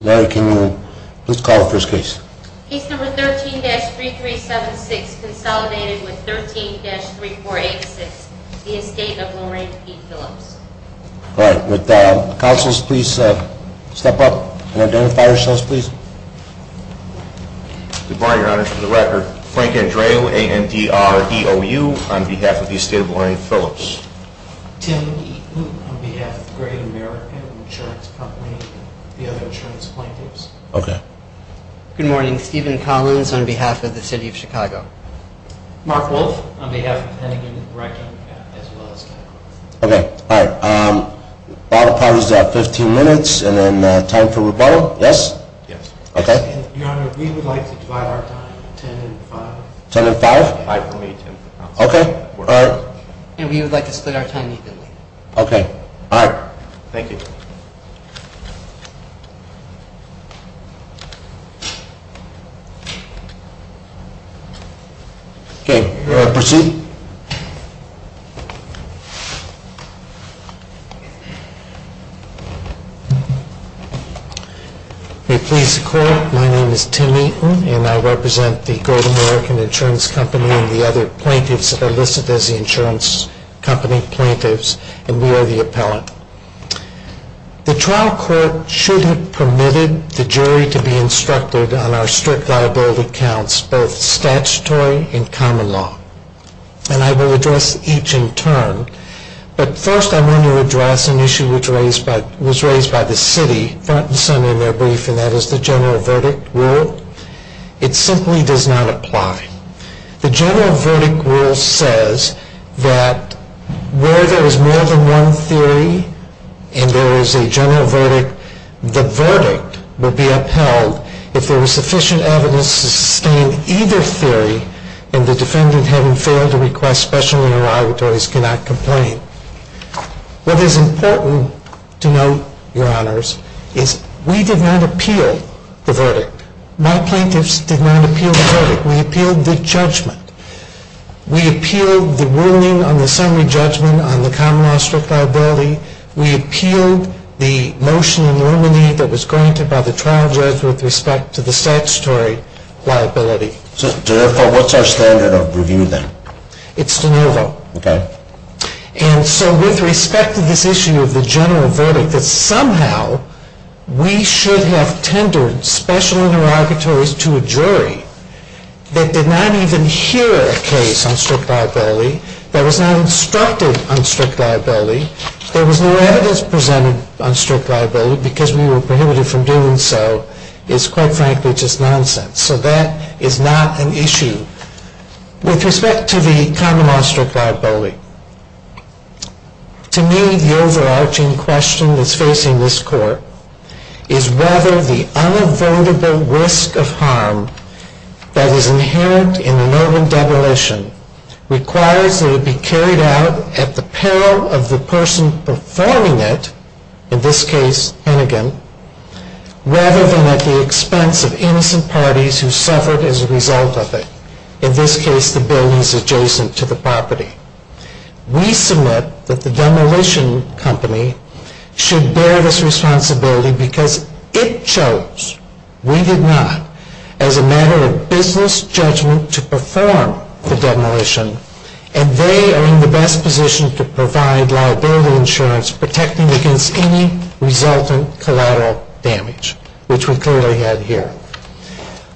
Larry, can you please call the first case? Case number 13-3376, consolidated with 13-3486, the estate of Lorraine P. Phillips. All right, would the counselors please step up and identify yourselves, please? Good morning, your honors. For the record, Frank Andreou, A-N-D-R-E-O-U, on behalf of the estate of Lorraine Phillips. Tim Eaton, on behalf of Great American Insurance Company and the other insurance plaintiffs. Okay. Good morning, Steven Collins on behalf of the city of Chicago. Mark Wolfe, on behalf of Hennigan Reckon, as well as Chicago. Okay, all right, bottle parties are at 15 minutes, and then time for rebuttal, yes? Yes. Okay. Your honor, we would like to divide our time, 10 and 5. 10 and 5? Divide for me, Tim. Okay, all right. And we would like to split our time evenly. Okay, all right. Thank you. Okay, proceed. May it please the court, my name is Tim Eaton, and I represent the Great American Insurance Company and the other plaintiffs that are listed as the insurance company plaintiffs, and we are the appellant. The trial court should have permitted the jury to be instructed on our strict liability counts, both statutory and common law, and I will address each in turn. But first, I want to address an issue which was raised by the city front and center in their brief, and that is the general verdict rule. It simply does not apply. The general verdict rule says that where there is more than one theory and there is a general verdict, the verdict will be upheld if there is sufficient evidence to sustain either theory and the defendant having failed to request special interrogatories cannot complain. What is important to note, your honors, is we did not appeal the verdict. My plaintiffs did not appeal the verdict. We appealed the judgment. We appealed the ruling on the summary judgment on the common law strict liability. We appealed the motion in Normandy that was granted by the trial judge with respect to the statutory liability. So therefore, what's our standard of review then? It's de novo. Okay. And so with respect to this issue of the general verdict, that somehow we should have tendered special interrogatories to a jury that did not even hear a case on strict liability, that was not instructed on strict liability, there was no evidence presented on strict liability because we were prohibited from doing so, is quite frankly just nonsense. So that is not an issue. With respect to the common law strict liability, to me, the overarching question that's facing this court is whether the unavoidable risk of harm that is inherent in the Normandebolition requires that it be carried out at the peril of the person performing it, in this case, Hennigan, rather than at the expense of innocent parties who suffered as a result of it, in this case, the buildings adjacent to the property. We submit that the demolition company should bear this responsibility because it chose, we did not, as a matter of business judgment to perform the demolition, and they are in the best position to provide liability insurance protecting against any resultant collateral damage, which we clearly had here.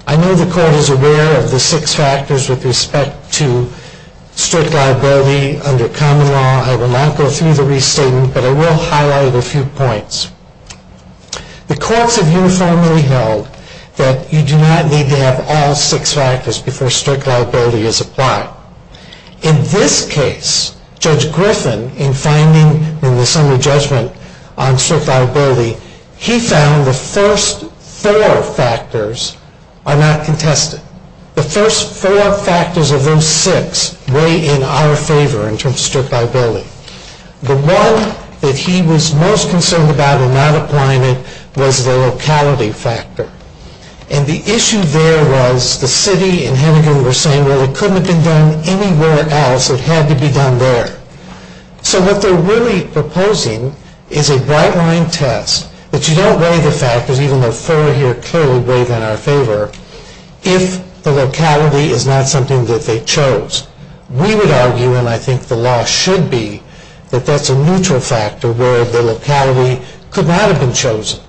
I know the court is aware of the six factors with respect to strict liability under common law. I will not go through the restatement, but I will highlight a few points. The courts have uniformly held that you do not need to have all six factors before strict liability is applied. In this case, Judge Griffin, in finding in the summary judgment on strict liability, he found the first four factors are not contested. The first four factors of those six weigh in our favor in terms of strict liability. The one that he was most concerned about in not applying it was the locality factor. And the issue there was the city and Hennigan were saying, well, it couldn't have been done anywhere else. It had to be done there. So what they're really proposing is a bright-line test that you don't weigh the factors, even though four here clearly weigh in our favor, if the locality is not something that they chose. We would argue, and I think the law should be, that that's a neutral factor where the locality could not have been chosen.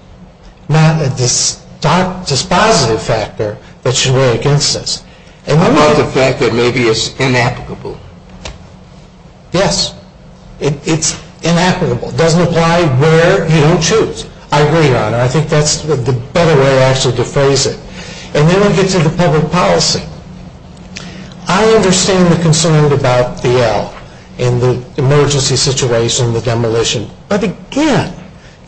Not a dispositive factor that should weigh against us. And I love the fact that maybe it's inapplicable. Yes, it's inapplicable. It doesn't apply where you don't choose. I agree, Your Honor. I think that's the better way, actually, to phrase it. And then we get to the public policy. I understand the concern about the L in the emergency situation, the demolition. But again,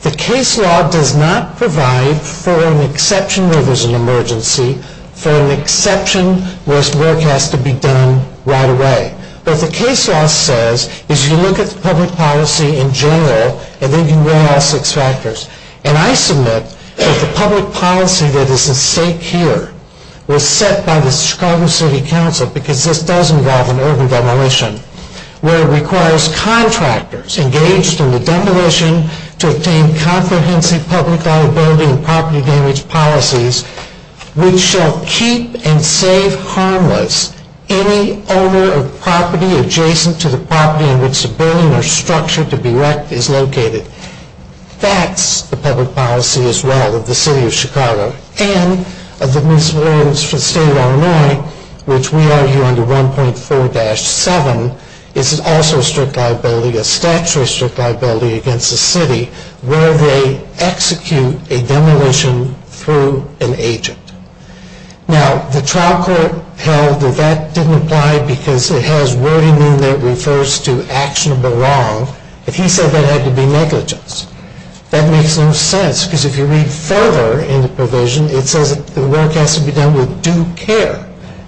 the case law does not provide for an exception where there's an emergency, for an exception where work has to be done right away. What the case law says is you look at the public policy in general, and then you weigh all six factors. And I submit that the public policy that is at stake here was set by the Chicago City Council, because this does involve an urban demolition, where it requires contractors engaged in the demolition to obtain comprehensive public liability and property damage policies which shall keep and save harmless any owner of property adjacent to the property in which the building or structure to be wrecked is located. That's the public policy as well of the city of Chicago. And of the municipal ordinance for the state of Illinois, which we argue under 1.4-7, is also a strict liability, a statutory strict liability against the city where they execute a demolition through an agent. Now, the trial court held that that didn't apply because it has wording in there that refers to actionable wrong. But he said that had to be negligence. That makes no sense, because if you read further in the provision, it says that the work has to be done with due care.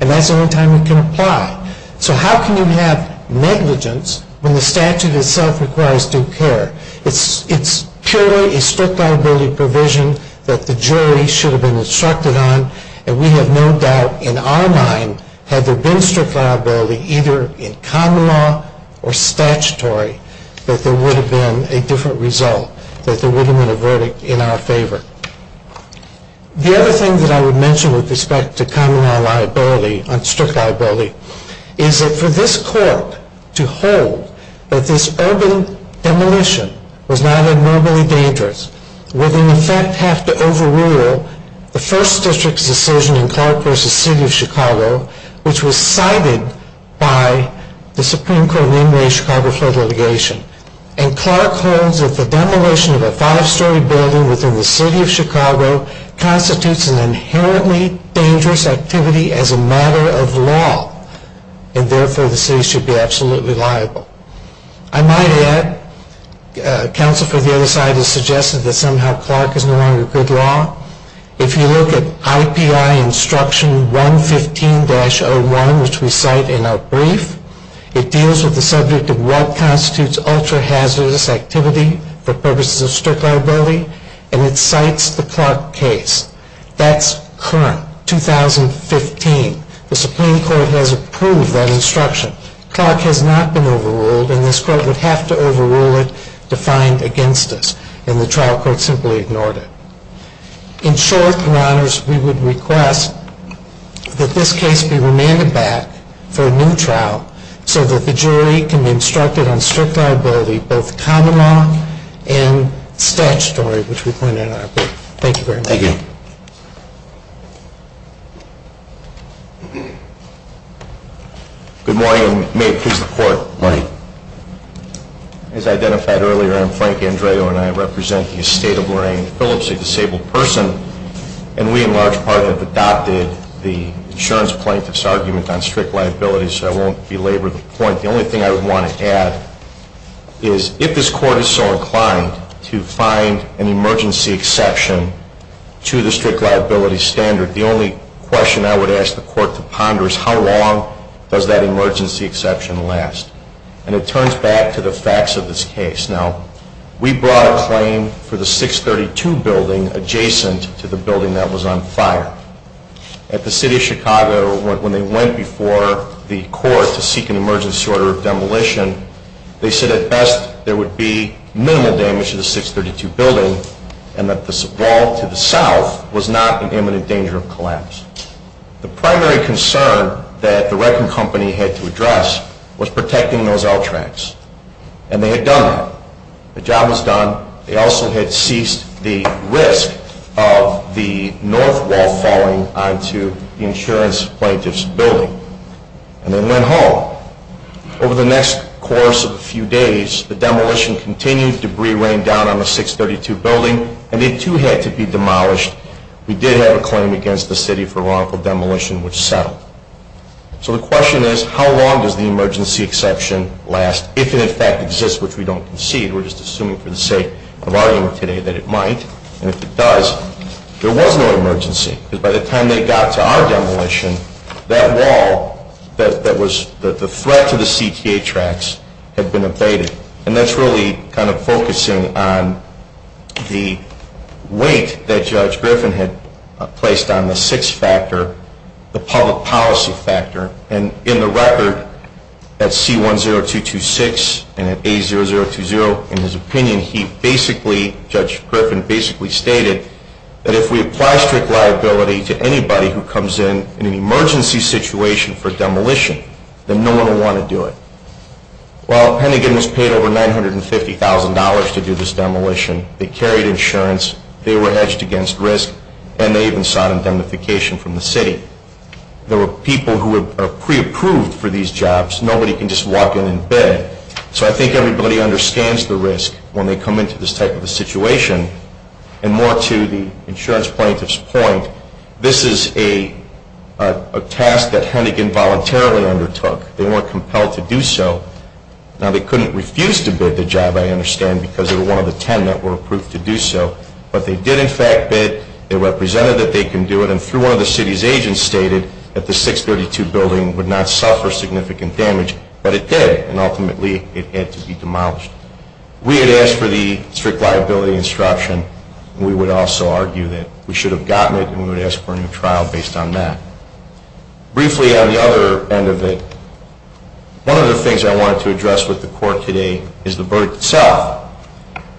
And that's the only time it can apply. So how can you have negligence when the statute itself requires due care? It's purely a strict liability provision that the jury should have been instructed on. And we have no doubt in our mind, had there been strict liability either in common law or statutory, that there would have been a different result, that there wouldn't have been a verdict in our favor. The other thing that I would mention with respect to common law liability, on strict liability, is that for this court to hold that this urban demolition was not abnormally dangerous, would in effect have to overrule the first district's decision in Clark versus City of Chicago, which was cited by the Supreme Court in the Chicago court of litigation. And Clark holds that the demolition of a five-story building within the City of Chicago constitutes an inherently dangerous activity as a matter of law, and therefore the city should be absolutely liable. I might add, counsel for the other side has suggested that somehow Clark is no longer good law. If you look at IPI Instruction 115-01, which we cite in our brief, it deals with the subject of what constitutes ultra-hazardous activity for purposes of strict liability, and it cites the Clark case. That's current, 2015, the Supreme Court has approved that instruction. Clark has not been overruled, and this court would have to overrule it to find against us, and the trial court simply ignored it. In short, your honors, we would request that this case be remanded back for a new trial so that the jury can be instructed on strict liability, both common law and statutory, which we point out in our brief. Thank you very much. Thank you. Good morning, may it please the court. Morning. As identified earlier, I'm Frank Andreo, and I represent the estate of Lorraine Phillips, a disabled person. And we, in large part, have adopted the insurance plaintiff's argument on strict liability, so I won't belabor the point. The only thing I would want to add is if this court is so inclined to find an emergency exception to the strict liability standard, the only question I would ask the court to ponder is how long does that emergency exception last? And it turns back to the facts of this case. Now, we brought a claim for the 632 building adjacent to the building that was on fire. At the city of Chicago, when they went before the court to seek an emergency order of demolition, they said at best there would be minimal damage to the 632 building, and that this wall to the south was not in imminent danger of collapse. The primary concern that the record company had to address was protecting those L tracks, and they had done that. The job was done, they also had ceased the risk of the north wall falling onto the insurance plaintiff's building, and they went home. Over the next course of a few days, the demolition continued, debris rained down on the 632 building, and they too had to be demolished. We did have a claim against the city for wrongful demolition, which settled. So the question is, how long does the emergency exception last, if it in fact exists, which we don't concede? We're just assuming for the sake of argument today that it might. And if it does, there was no emergency, because by the time they got to our demolition, that wall that was the threat to the CTA tracks had been abated. And that's really kind of focusing on the weight that Judge Griffin had placed on the six factor, the public policy factor. And in the record, at C10226 and at A0020, in his opinion he basically, Judge Griffin basically stated that if we apply strict liability to anybody who comes in, in an emergency situation for demolition, then no one will want to do it. Well, Hennigan has paid over $950,000 to do this demolition. They carried insurance, they were hedged against risk, and they even sought indemnification from the city. There were people who were pre-approved for these jobs, nobody can just walk in and bid. So I think everybody understands the risk when they come into this type of a situation. And more to the insurance plaintiff's point, this is a task that Hennigan voluntarily undertook. They weren't compelled to do so. Now they couldn't refuse to bid the job, I understand, because they were one of the ten that were approved to do so. But they did in fact bid, they represented that they can do it, and through one of the city's agents stated that the 632 building would not suffer significant damage. But it did, and ultimately it had to be demolished. We had asked for the strict liability instruction, and we would also argue that we should have gotten it, and we would ask for a new trial based on that. Briefly on the other end of it, one of the things I wanted to address with the court today is the verdict itself.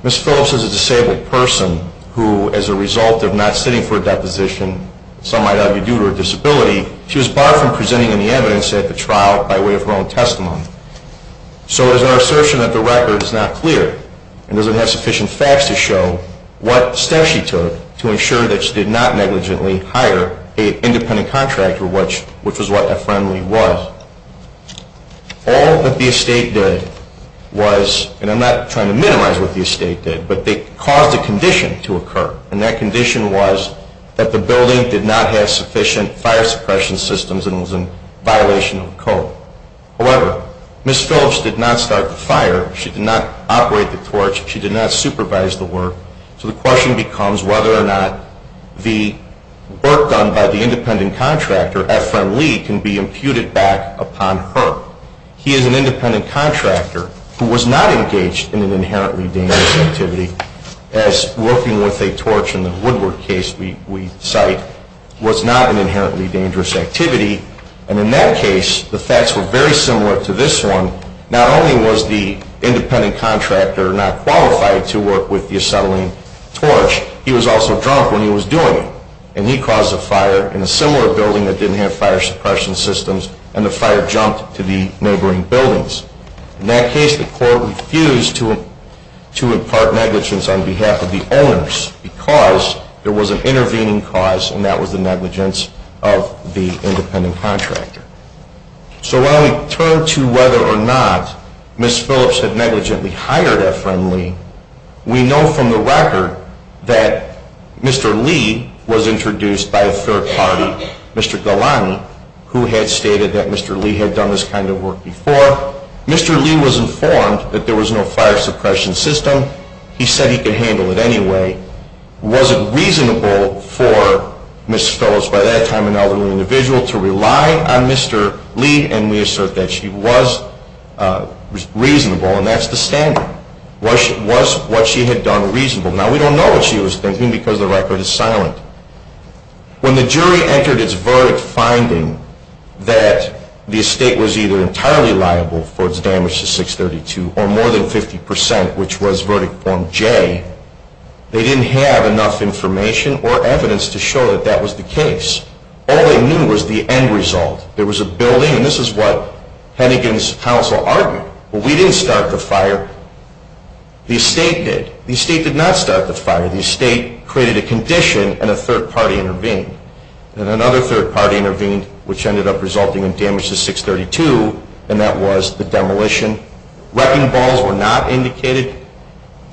Ms. Phillips is a disabled person who, as a result of not sitting for a deposition, some might argue due to her disability, she was barred from presenting any evidence at the trial by way of her own testimony. So it is our assertion that the record is not clear and doesn't have sufficient facts to show what steps she took to ensure that she did not negligently hire an independent contractor, which was what a friendly was. All that the estate did was, and I'm not trying to minimize what the estate did, but they caused a condition to occur. And that condition was that the building did not have sufficient fire suppression systems and was in violation of the code. However, Ms. Phillips did not start the fire, she did not operate the torch, she did not supervise the work. So the question becomes whether or not the work done by the independent contractor at Friendly can be imputed back upon her. He is an independent contractor who was not engaged in an inherently dangerous activity, as working with a torch in the Woodward case we cite was not an inherently dangerous activity. And in that case, the facts were very similar to this one. Not only was the independent contractor not qualified to work with the acetylene torch, he was also drunk when he was doing it. And he caused a fire in a similar building that didn't have fire suppression systems, and the fire jumped to the neighboring buildings. In that case, the court refused to impart negligence on behalf of the owners, because there was an intervening cause, and that was the negligence of the independent contractor. So when we turn to whether or not Ms. Phillips had negligently hired at Friendly, we know from the record that Mr. Lee was introduced by a third party, Mr. Galani, who had stated that Mr. Lee had done this kind of work before. Mr. Lee was informed that there was no fire suppression system, he said he could handle it anyway. Was it reasonable for Ms. Phillips, by that time an elderly individual, to rely on Mr. Lee, and we assert that she was reasonable, and that's the standard. Was what she had done reasonable? Now, we don't know what she was thinking, because the record is silent. When the jury entered its verdict finding that the estate was either entirely liable for its damage to 632, or more than 50%, which was verdict form J. They didn't have enough information or evidence to show that that was the case. All they knew was the end result. There was a building, and this is what Hennigan's counsel argued, but we didn't start the fire, the estate did. The estate did not start the fire, the estate created a condition and a third party intervened. And another third party intervened, which ended up resulting in damage to 632, and that was the demolition. Wrecking balls were not indicated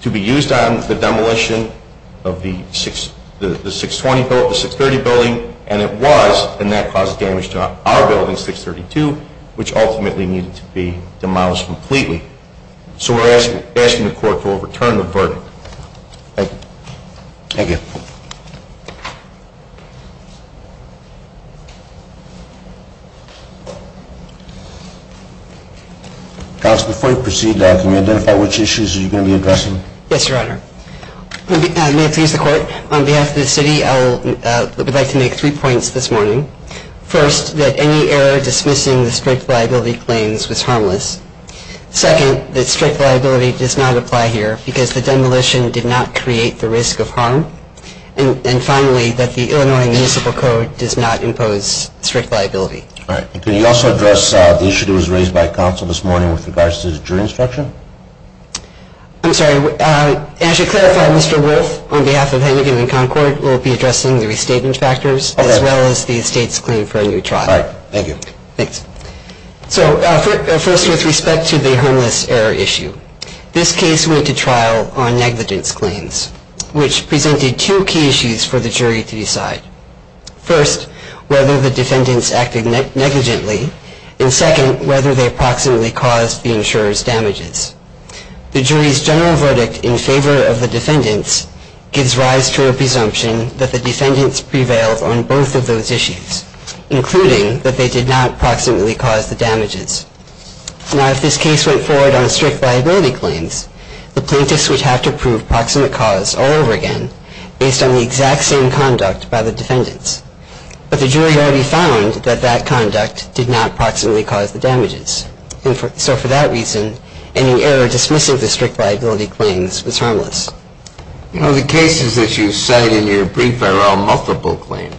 to be used on the demolition of the 620 building, the 630 building, and it was, and that caused damage to our building, 632, which ultimately needed to be demolished completely. So we're asking the court to overturn the verdict. Thank you. Thank you. Thank you. Counsel, before you proceed, can you identify which issues you're going to be addressing? Yes, your honor. May it please the court, on behalf of the city, I would like to make three points this morning. First, that any error dismissing the strict liability claims was harmless. Second, that strict liability does not apply here, because the demolition did not create the risk of harm. And finally, that the Illinois Municipal Code does not impose strict liability. All right, and can you also address the issue that was raised by counsel this morning with regards to the jury instruction? I'm sorry, and I should clarify, Mr. Wolfe, on behalf of Hennigan and Concord, we'll be addressing the restatement factors, as well as the estate's claim for a new trial. All right, thank you. Thanks. So first, with respect to the harmless error issue. This case went to trial on negligence claims, which presented two key issues for the jury to decide. First, whether the defendants acted negligently. And second, whether they approximately caused the insurer's damages. The jury's general verdict in favor of the defendants gives rise to a presumption that the defendants prevailed on both of those issues, including that they did not approximately cause the damages. Now, if this case went forward on strict liability claims, the plaintiffs would have to prove proximate cause all over again, based on the exact same conduct by the defendants. But the jury already found that that conduct did not approximately cause the damages. And so for that reason, any error dismissing the strict liability claims was harmless. You know, the cases that you cite in your brief are all multiple claims.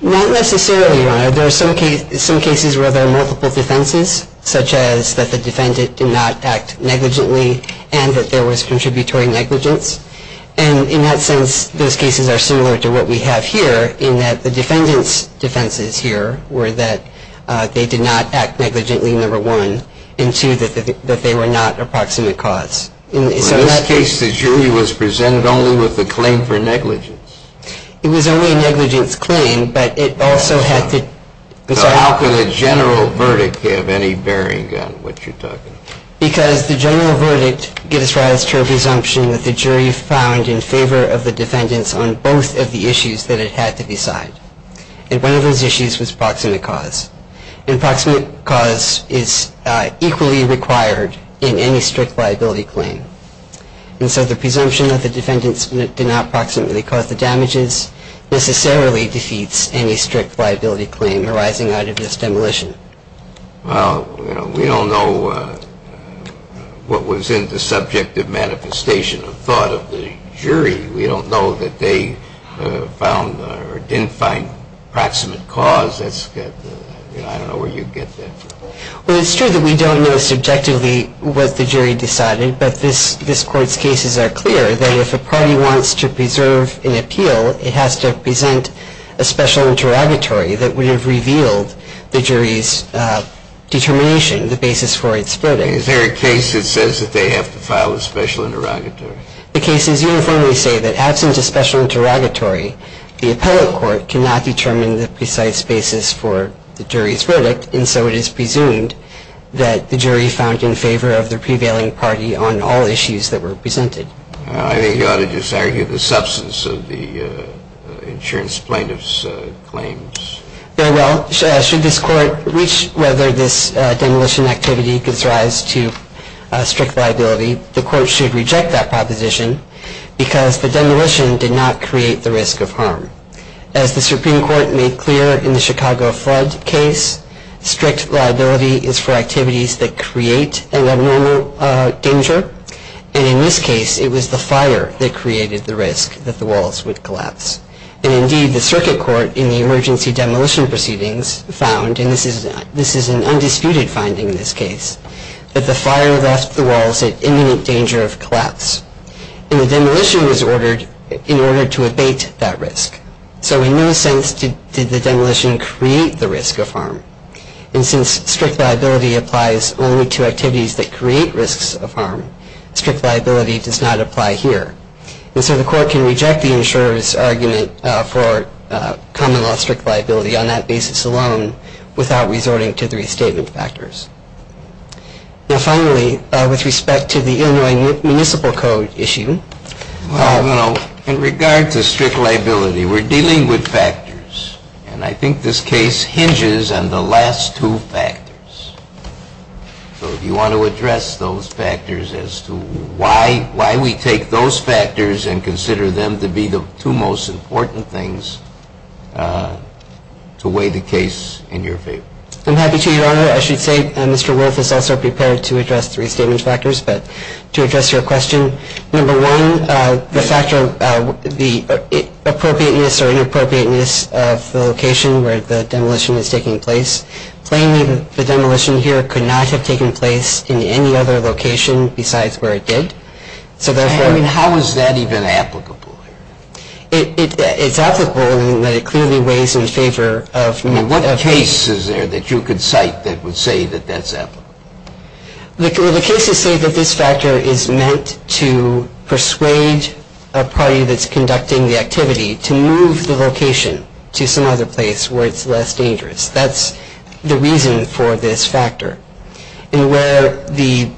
Not necessarily, Your Honor. There are some cases where there are multiple defenses, such as that the defendant did not act negligently, and that there was contributory negligence. And in that sense, those cases are similar to what we have here, in that the defendant's defenses here were that they did not act negligently, number one. And two, that they were not approximate cause. In this case, the jury was presented only with the claim for negligence. It was only a negligence claim, but it also had to... So how could a general verdict give any bearing on what you're talking about? Because the general verdict gives rise to a presumption that the jury found in favor of the defendants on both of the issues that it had to decide. And one of those issues was proximate cause. And proximate cause is equally required in any strict liability claim. And so the presumption that the defendants did not proximately cause the damages, necessarily defeats any strict liability claim arising out of this demolition. Well, we don't know what was in the subject of manifestation of thought of the jury. We don't know that they found or didn't find proximate cause. I don't know where you get that from. Well, it's true that we don't know subjectively what the jury decided, but this court's cases are clear that if a party wants to preserve an appeal, it has to present a special interrogatory that would have revealed the jury's determination, the basis for its verdict. Is there a case that says that they have to file a special interrogatory? The cases uniformly say that absent a special interrogatory, the appellate court cannot determine the precise basis for the jury's verdict. And so it is presumed that the jury found in favor of the prevailing party on all issues that were presented. I think you ought to just argue the substance of the insurance plaintiff's claims. Well, should this court reach whether this demolition activity gives rise to strict liability, the court should reject that proposition As the Supreme Court made clear in the Chicago flood case, strict liability is for activities that create an abnormal danger. And in this case, it was the fire that created the risk that the walls would collapse. And indeed, the circuit court in the emergency demolition proceedings found, and this is an undisputed finding in this case, And the demolition was ordered in order to abate that risk. So in no sense did the demolition create the risk of harm. And since strict liability applies only to activities that create risks of harm, strict liability does not apply here. And so the court can reject the insurer's argument for common law strict liability on that basis alone without resorting to the restatement factors. Now, finally, with respect to the Illinois Municipal Code issue. Well, in regard to strict liability, we're dealing with factors. And I think this case hinges on the last two factors. So if you want to address those factors as to why we take those factors and consider them to be the two most important things to weigh the case in your favor. I'm happy to, Your Honor. I should say Mr. Wolfe is also prepared to address three statement factors. But to address your question, number one, the factor of the appropriateness or inappropriateness of the location where the demolition is taking place. Plainly, the demolition here could not have taken place in any other location besides where it did. So therefore, I mean, how is that even applicable? It's applicable in that it clearly weighs in favor of I mean, what case is there that you could cite that would say that that's applicable? The cases say that this factor is meant to persuade a party that's conducting the activity to move the location to some other place where it's less dangerous. That's the reason for this factor. And where the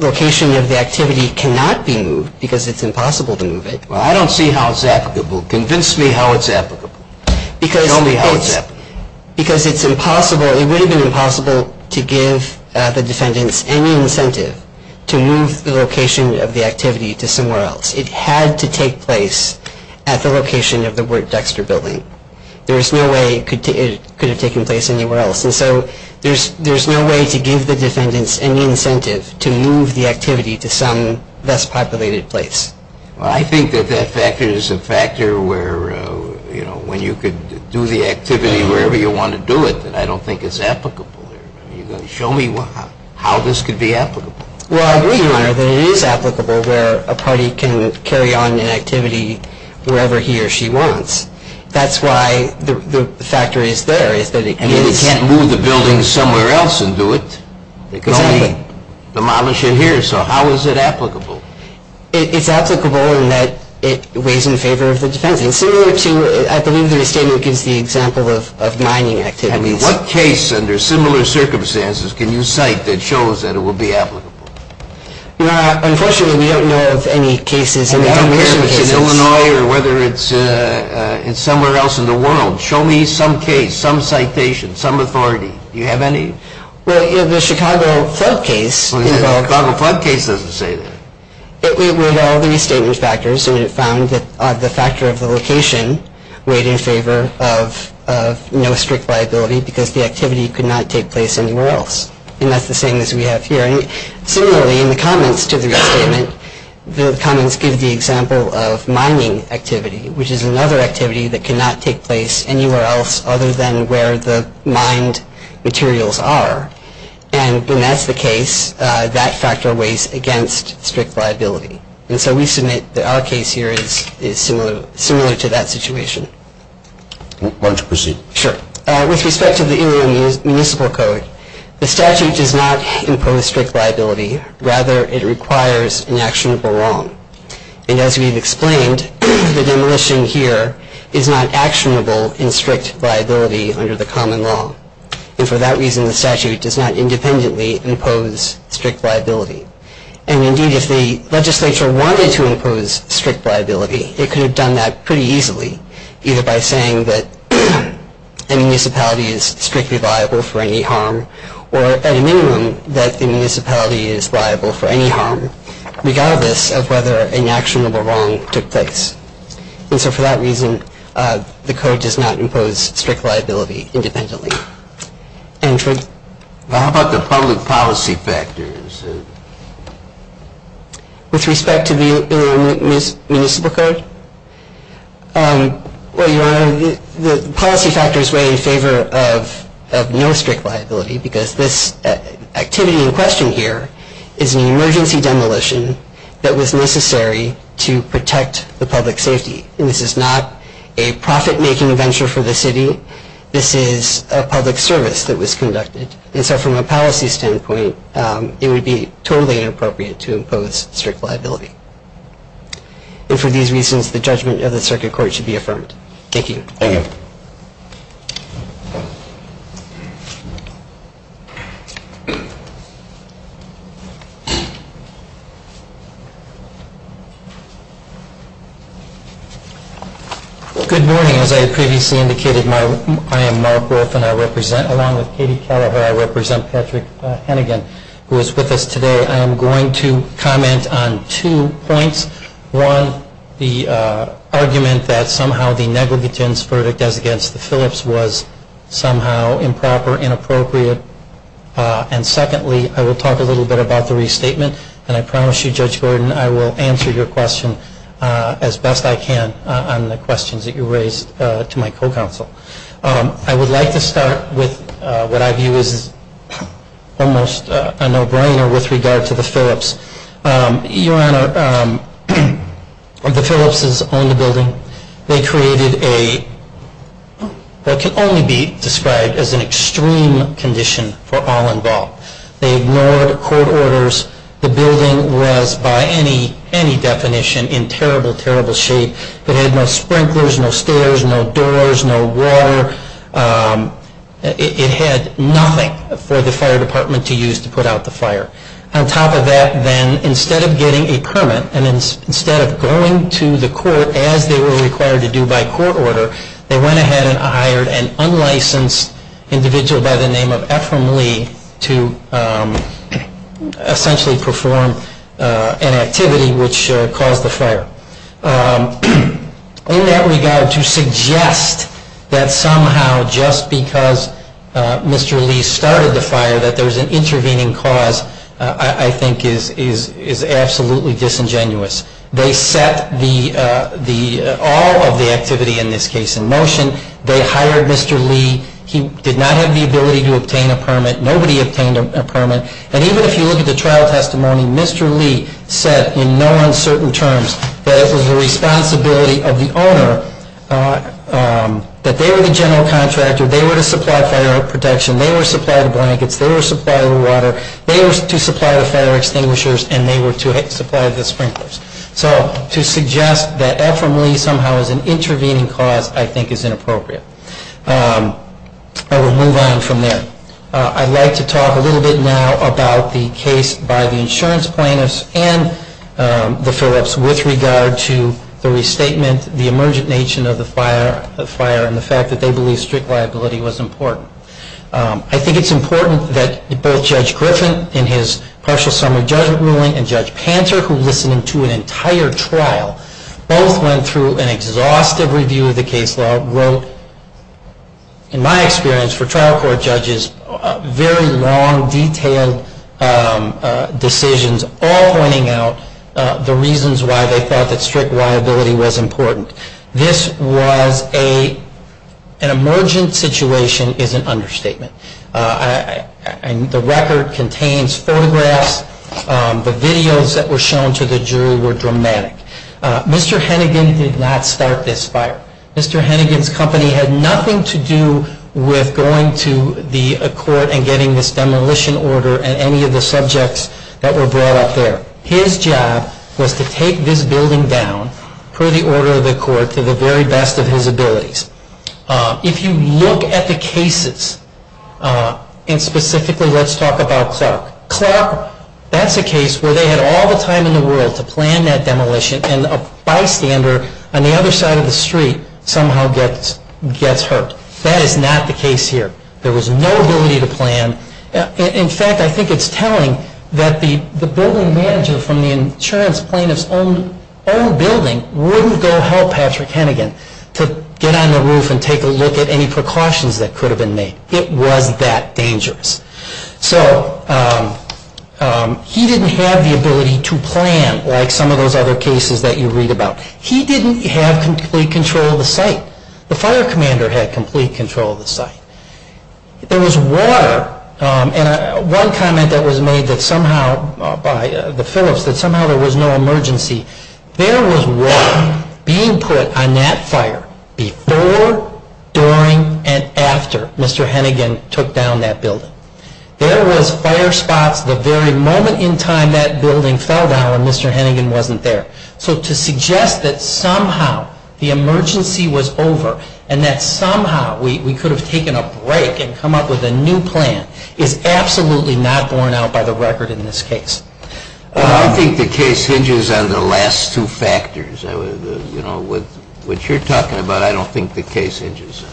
location of the activity cannot be moved because it's impossible to move it. Well, I don't see how it's applicable. Convince me how it's applicable. Because it's impossible, it would have been impossible to give the defendants any incentive to move the location of the activity to somewhere else. It had to take place at the location of the Wirt-Dexter building. There's no way it could have taken place anywhere else. And so there's no way to give the defendants any incentive to move the activity to some less populated place. Well, I think that that factor is a factor where, you know, when you could do the activity wherever you want to do it, that I don't think it's applicable. You're going to show me how this could be applicable. Well, I agree, Your Honor, that it is applicable where a party can carry on an activity wherever he or she wants. That's why the factor is there. It's that it can't move the building somewhere else and do it. They can only demolish it here. So how is it applicable? It's applicable in that it weighs in favor of the defendants. It's similar to, I believe the restatement gives the example of mining activities. I mean, what case under similar circumstances can you cite that shows that it will be applicable? Your Honor, unfortunately, we don't know of any cases. I mean, I don't care if it's in Illinois or whether it's somewhere else in the world. Show me some case, some citation, some authority. Do you have any? Well, you know, the Chicago flood case. The Chicago flood case doesn't say that. It weighed all the restatement factors, and it found that the factor of the location weighed in favor of no strict liability because the activity could not take place anywhere else. And that's the same as we have here. And similarly, in the comments to the restatement, the comments give the example of mining activity, which is another activity that cannot take place anywhere else other than where the mined materials are. And when that's the case, that factor weighs against strict liability. And so we submit that our case here is similar to that situation. Why don't you proceed? Sure. With respect to the Illinois Municipal Code, the statute does not impose strict liability. Rather, it requires an actionable wrong. And as we've explained, the demolition here is not actionable in strict liability under the common law. And for that reason, the statute does not independently impose strict liability. And indeed, if the legislature wanted to impose strict liability, it could have done that pretty easily, either by saying that a municipality is strictly liable for any harm or, at a minimum, that the municipality is liable for any harm, regardless of whether an actionable wrong took place. And so for that reason, the code does not impose strict liability independently. And for the public policy factors, with respect to the Illinois Municipal Code, the policy factors weigh in favor of no strict liability, because this activity in question here is an emergency demolition that was necessary to protect the public safety. And this is not a profit-making venture for the city. This is a public service that was conducted. And so from a policy standpoint, it would be totally inappropriate to impose strict liability. And for these reasons, the judgment of the circuit court should be affirmed. Thank you. Thank you. Good morning. As I had previously indicated, I am Mark Wolfe, and I represent, along with Katie Callahan, I represent Patrick Hennigan, who is with us today. I am going to comment on two points. One, the argument that somehow the negligent verdict as against the Phillips was somehow improper, inappropriate. And secondly, I will talk a little bit about the restatement. And I promise you, Judge Gordon, I will answer your questions as best I can on the questions that you raised to my co-counsel. I would like to start with what I view as almost a no-brainer with regard to the Phillips. Your Honor, the Phillipses owned the building. They created what can only be described as an extreme condition for all involved. They ignored court orders. The building was, by any definition, in terrible, terrible shape. It had no sprinklers, no stairs, no doors, no water. It had nothing for the fire department to use to put out the fire. On top of that, then, instead of getting a permit, and instead of going to the court as they were required to do by court order, they went ahead and hired an unlicensed individual by the name of Ephraim Lee to essentially perform an activity which caused the fire. In that regard, to suggest that somehow, just because Mr. Lee started the fire, that there was an intervening cause, I think is absolutely disingenuous. They set all of the activity, in this case, in motion. They hired Mr. Lee. He did not have the ability to obtain a permit. Nobody obtained a permit. And even if you look at the trial testimony, Mr. Lee said, in no uncertain terms, that it was the responsibility of the owner, that they were the general contractor. They were to supply fire protection. They were to supply the blankets. They were to supply the water. They were to supply the fire extinguishers, and they were to supply the sprinklers. So to suggest that Ephraim Lee somehow is an intervening cause, I think is inappropriate. I will move on from there. I'd like to talk a little bit now about the case by the insurance plaintiffs and the Phillips with regard to the restatement, the emergent nation of the fire, and the fact that they believe strict liability was important. I think it's important that both Judge Griffin, in his partial summary judgment ruling, and in an entire trial, both went through an exhaustive review of the case law, wrote, in my experience, for trial court judges, very long, detailed decisions, all pointing out the reasons why they thought that strict liability was important. This was an emergent situation is an understatement. The record contains photographs. The videos that were shown to the jury were dramatic. Mr. Hennigan did not start this fire. Mr. Hennigan's company had nothing to do with going to the court and getting this demolition order and any of the subjects that were brought up there. His job was to take this building down, per the order of the court, to the very best of his abilities. If you look at the cases, and specifically let's talk about Clark. Clark, that's a case where they had all the time in the world to plan that demolition and a bystander on the other side of the street somehow gets hurt. That is not the case here. There was no ability to plan. In fact, I think it's telling that the building manager from the insurance plaintiff's own building wouldn't go help Patrick Hennigan to get on the roof and take a look at any precautions that could have been made. It was that dangerous. So he didn't have the ability to plan like some of those other cases that you read about. He didn't have complete control of the site. The fire commander had complete control of the site. There was water, and one comment that was made that somehow by the Phillips that somehow there was no emergency, there was water being put on that fire before, during, and after Mr. Hennigan took down that building. There was fire spots the very moment in time that building fell down and Mr. Hennigan wasn't there. So to suggest that somehow the emergency was over and that somehow we could have taken a break and come up with a new plan is absolutely not borne out by the record in this case. I don't think the case hinges on the last two factors, which you're talking about. I don't think the case hinges on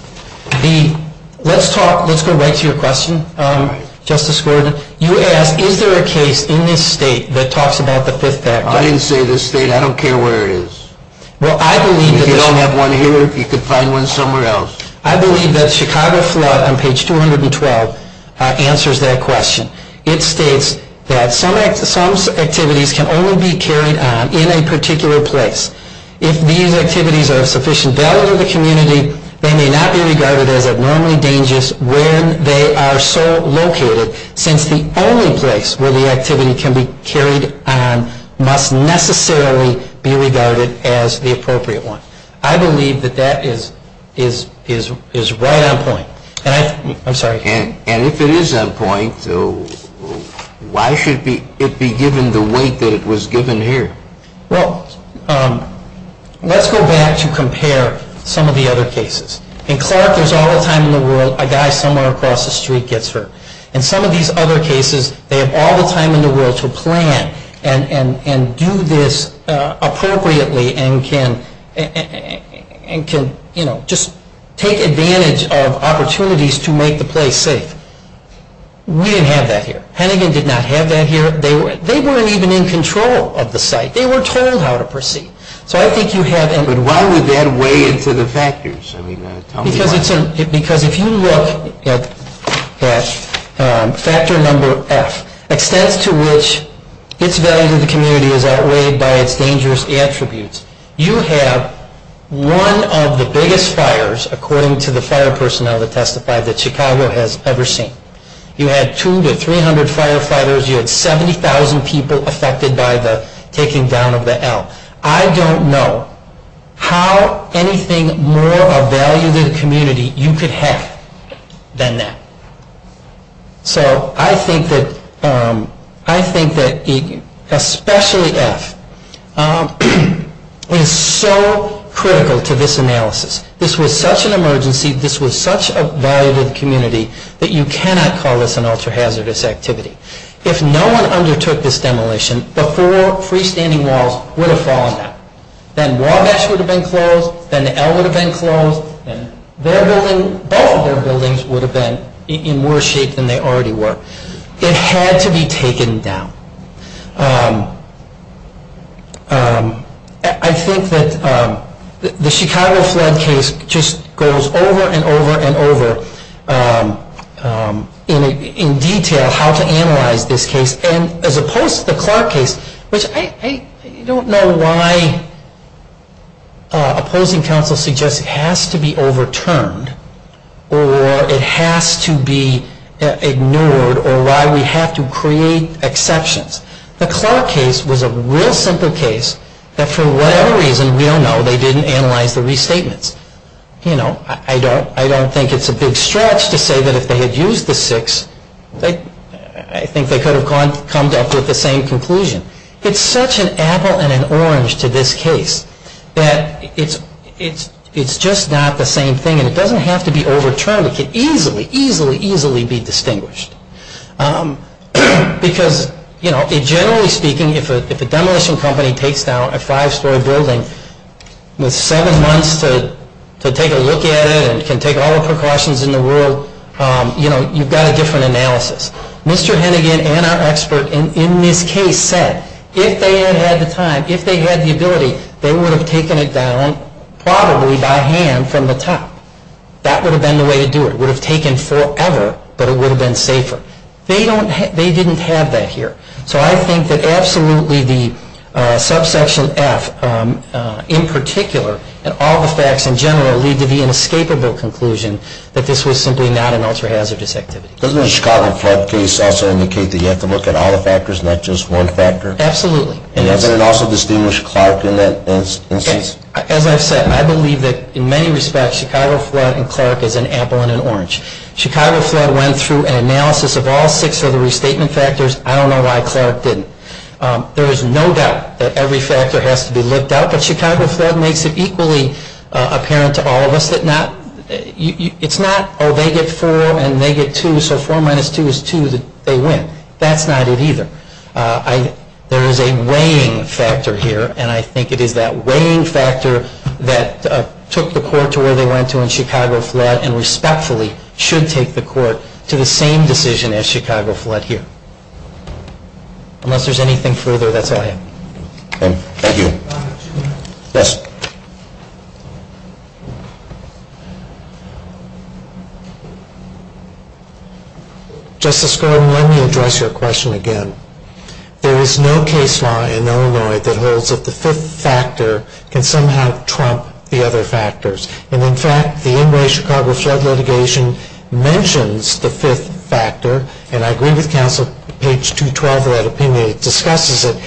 that. Let's go right to your question, Justice Gordon. You asked, is there a case in this state that talks about the fifth factor? I didn't say this state. I don't care where it is. If you don't have one here, you could find one somewhere else. I believe that Chicago flood on page 212 answers that question. It states that some activities can only be carried on in a particular place. If these activities are of sufficient value to the community, they may not be regarded as abnormally dangerous where they are so located, since the only place where the activity can be carried on must necessarily be regarded as the appropriate one. I believe that that is right on point. I'm sorry. And if it is on point, why should it be given the weight that it was given here? Well, let's go back to compare some of the other cases. In Clark, there's all the time in the world a guy somewhere across the street gets hurt. In some of these other cases, they have all the time in the world to plan and do this safe. We didn't have that here. Hennigan did not have that here. They weren't even in control of the site. They were told how to proceed. So I think you have... But why would that weigh into the factors? Because if you look at factor number F, extents to which its value to the community is outweighed by its dangerous attributes, you have one of the biggest fires, according to the fire department, that we've ever seen. You had 200 to 300 firefighters. You had 70,000 people affected by the taking down of the L. I don't know how anything more of value to the community you could have than that. So I think that, especially F, is so critical to this analysis. This was such an emergency. This was such a value to the community that you cannot call this an ultra-hazardous activity. If no one undertook this demolition, the four freestanding walls would have fallen down. Then Wabash would have been closed, then the L would have been closed, and both of their buildings would have been in worse shape than they already were. It had to be taken down. I think that the Chicago flood case just goes over and over and over in detail how to analyze this case. And as opposed to the Clark case, which I don't know why opposing counsel suggests it has to be overturned, or it has to be ignored, or why we have to create exceptions. The Clark case was a real simple case that for whatever reason, we don't know, they didn't analyze the restatements. I don't think it's a big stretch to say that if they had used the six, I think they could have come up with the same conclusion. It's such an apple and an orange to this case that it's just not the same thing. And it doesn't have to be overturned. It can easily, easily, easily be distinguished. Because generally speaking, if a demolition company takes down a five-story building with seven months to take a look at it and can take all the precautions in the world, you've got a different analysis. Mr. Hennigan and our expert in this case said if they had had the time, if they had the ability, they would have taken it down probably by hand from the top. That would have been the way to do it. It would have taken forever, but it would have been safer. They didn't have that here. So I think that absolutely the subsection F in particular, and all the facts in general, lead to the inescapable conclusion that this was simply not an ultra-hazardous activity. Doesn't the Chicago flood case also indicate that you have to look at all the factors, not just one factor? Absolutely. And does it also distinguish Clark in that instance? As I've said, I believe that in many respects, Chicago flood and Clark is an apple and an orange. Chicago flood went through an analysis of all six of the restatement factors. I don't know why Clark didn't. There is no doubt that every factor has to be looked at. But Chicago flood makes it equally apparent to all of us that it's not, oh, they get four and they get two, so four minus two is two, that they win. That's not it either. There is a weighing factor here, and I think it is that weighing factor that took the court to where they went to in Chicago flood and respectfully should take the court to the same decision as Chicago flood here. Unless there's anything further, that's all I have. Thank you. Yes? Justice Golden, let me address your question again. There is no case law in Illinois that holds that the fifth factor can somehow trump the other factors. And in fact, the in-way Chicago flood litigation mentions the fifth factor, and I agree with counsel, page 212 of that opinion, it discusses it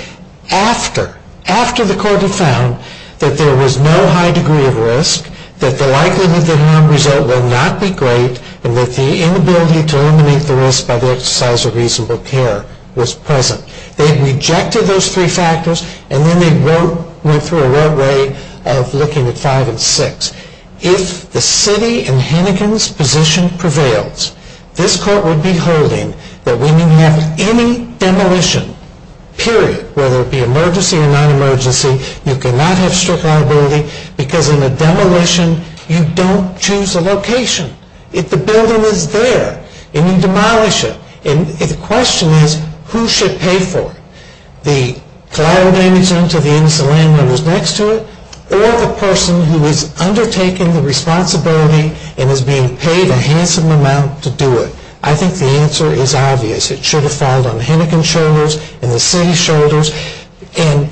after, after the court had found that there was no high degree of risk, that the likelihood of the harm result will not be great, and that the inability to eliminate the risk by the exercise of reasonable care was present. They rejected those three factors, and then they went through a wrong way of looking at five and six, if the city in Hennigan's position prevails, this court would be holding that when you have any demolition, period, whether it be emergency or non-emergency, you cannot have strict liability, because in a demolition, you don't choose a location. If the building is there, and you demolish it, and the question is, who should pay for it? The cloud manager until the end of the landowner is next to it, or the person who is undertaking the responsibility and is being paid a handsome amount to do it? I think the answer is obvious. It should have fallen on Hennigan's shoulders and the city's shoulders, and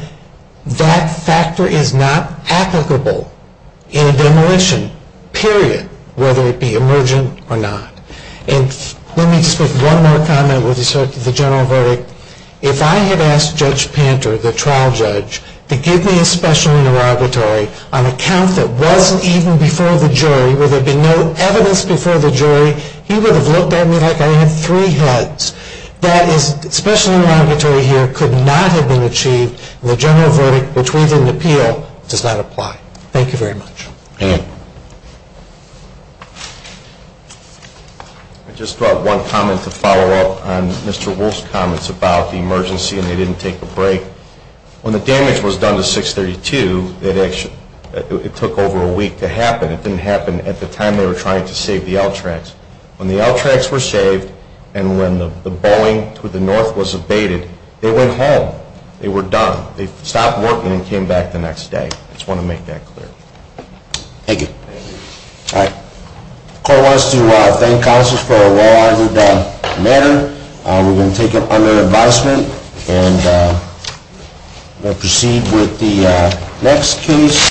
that factor is not applicable in a demolition, period, whether it be emergent or not. And let me just make one more comment with respect to the general verdict. If I had asked Judge Panter, the trial judge, to give me a special interrogatory on a count that wasn't even before the jury, where there had been no evidence before the jury, he would have looked at me like I had three heads. That special interrogatory here could not have been achieved, and the general verdict, which we didn't appeal, does not apply. Thank you very much. I just brought one comment to follow up on Mr. Wolfe's comments about the emergency, and they didn't take a break. When the damage was done to 632, it took over a week to happen. It didn't happen at the time they were trying to save the L tracks. When the L tracks were saved, and when the Boeing to the north was abated, they went home. They were done. They stopped working and came back the next day. I just want to make that clear. Thank you. All right. The court wants to thank counsels for a well-argued matter. We're going to take it under advisement, and we'll proceed with the next case.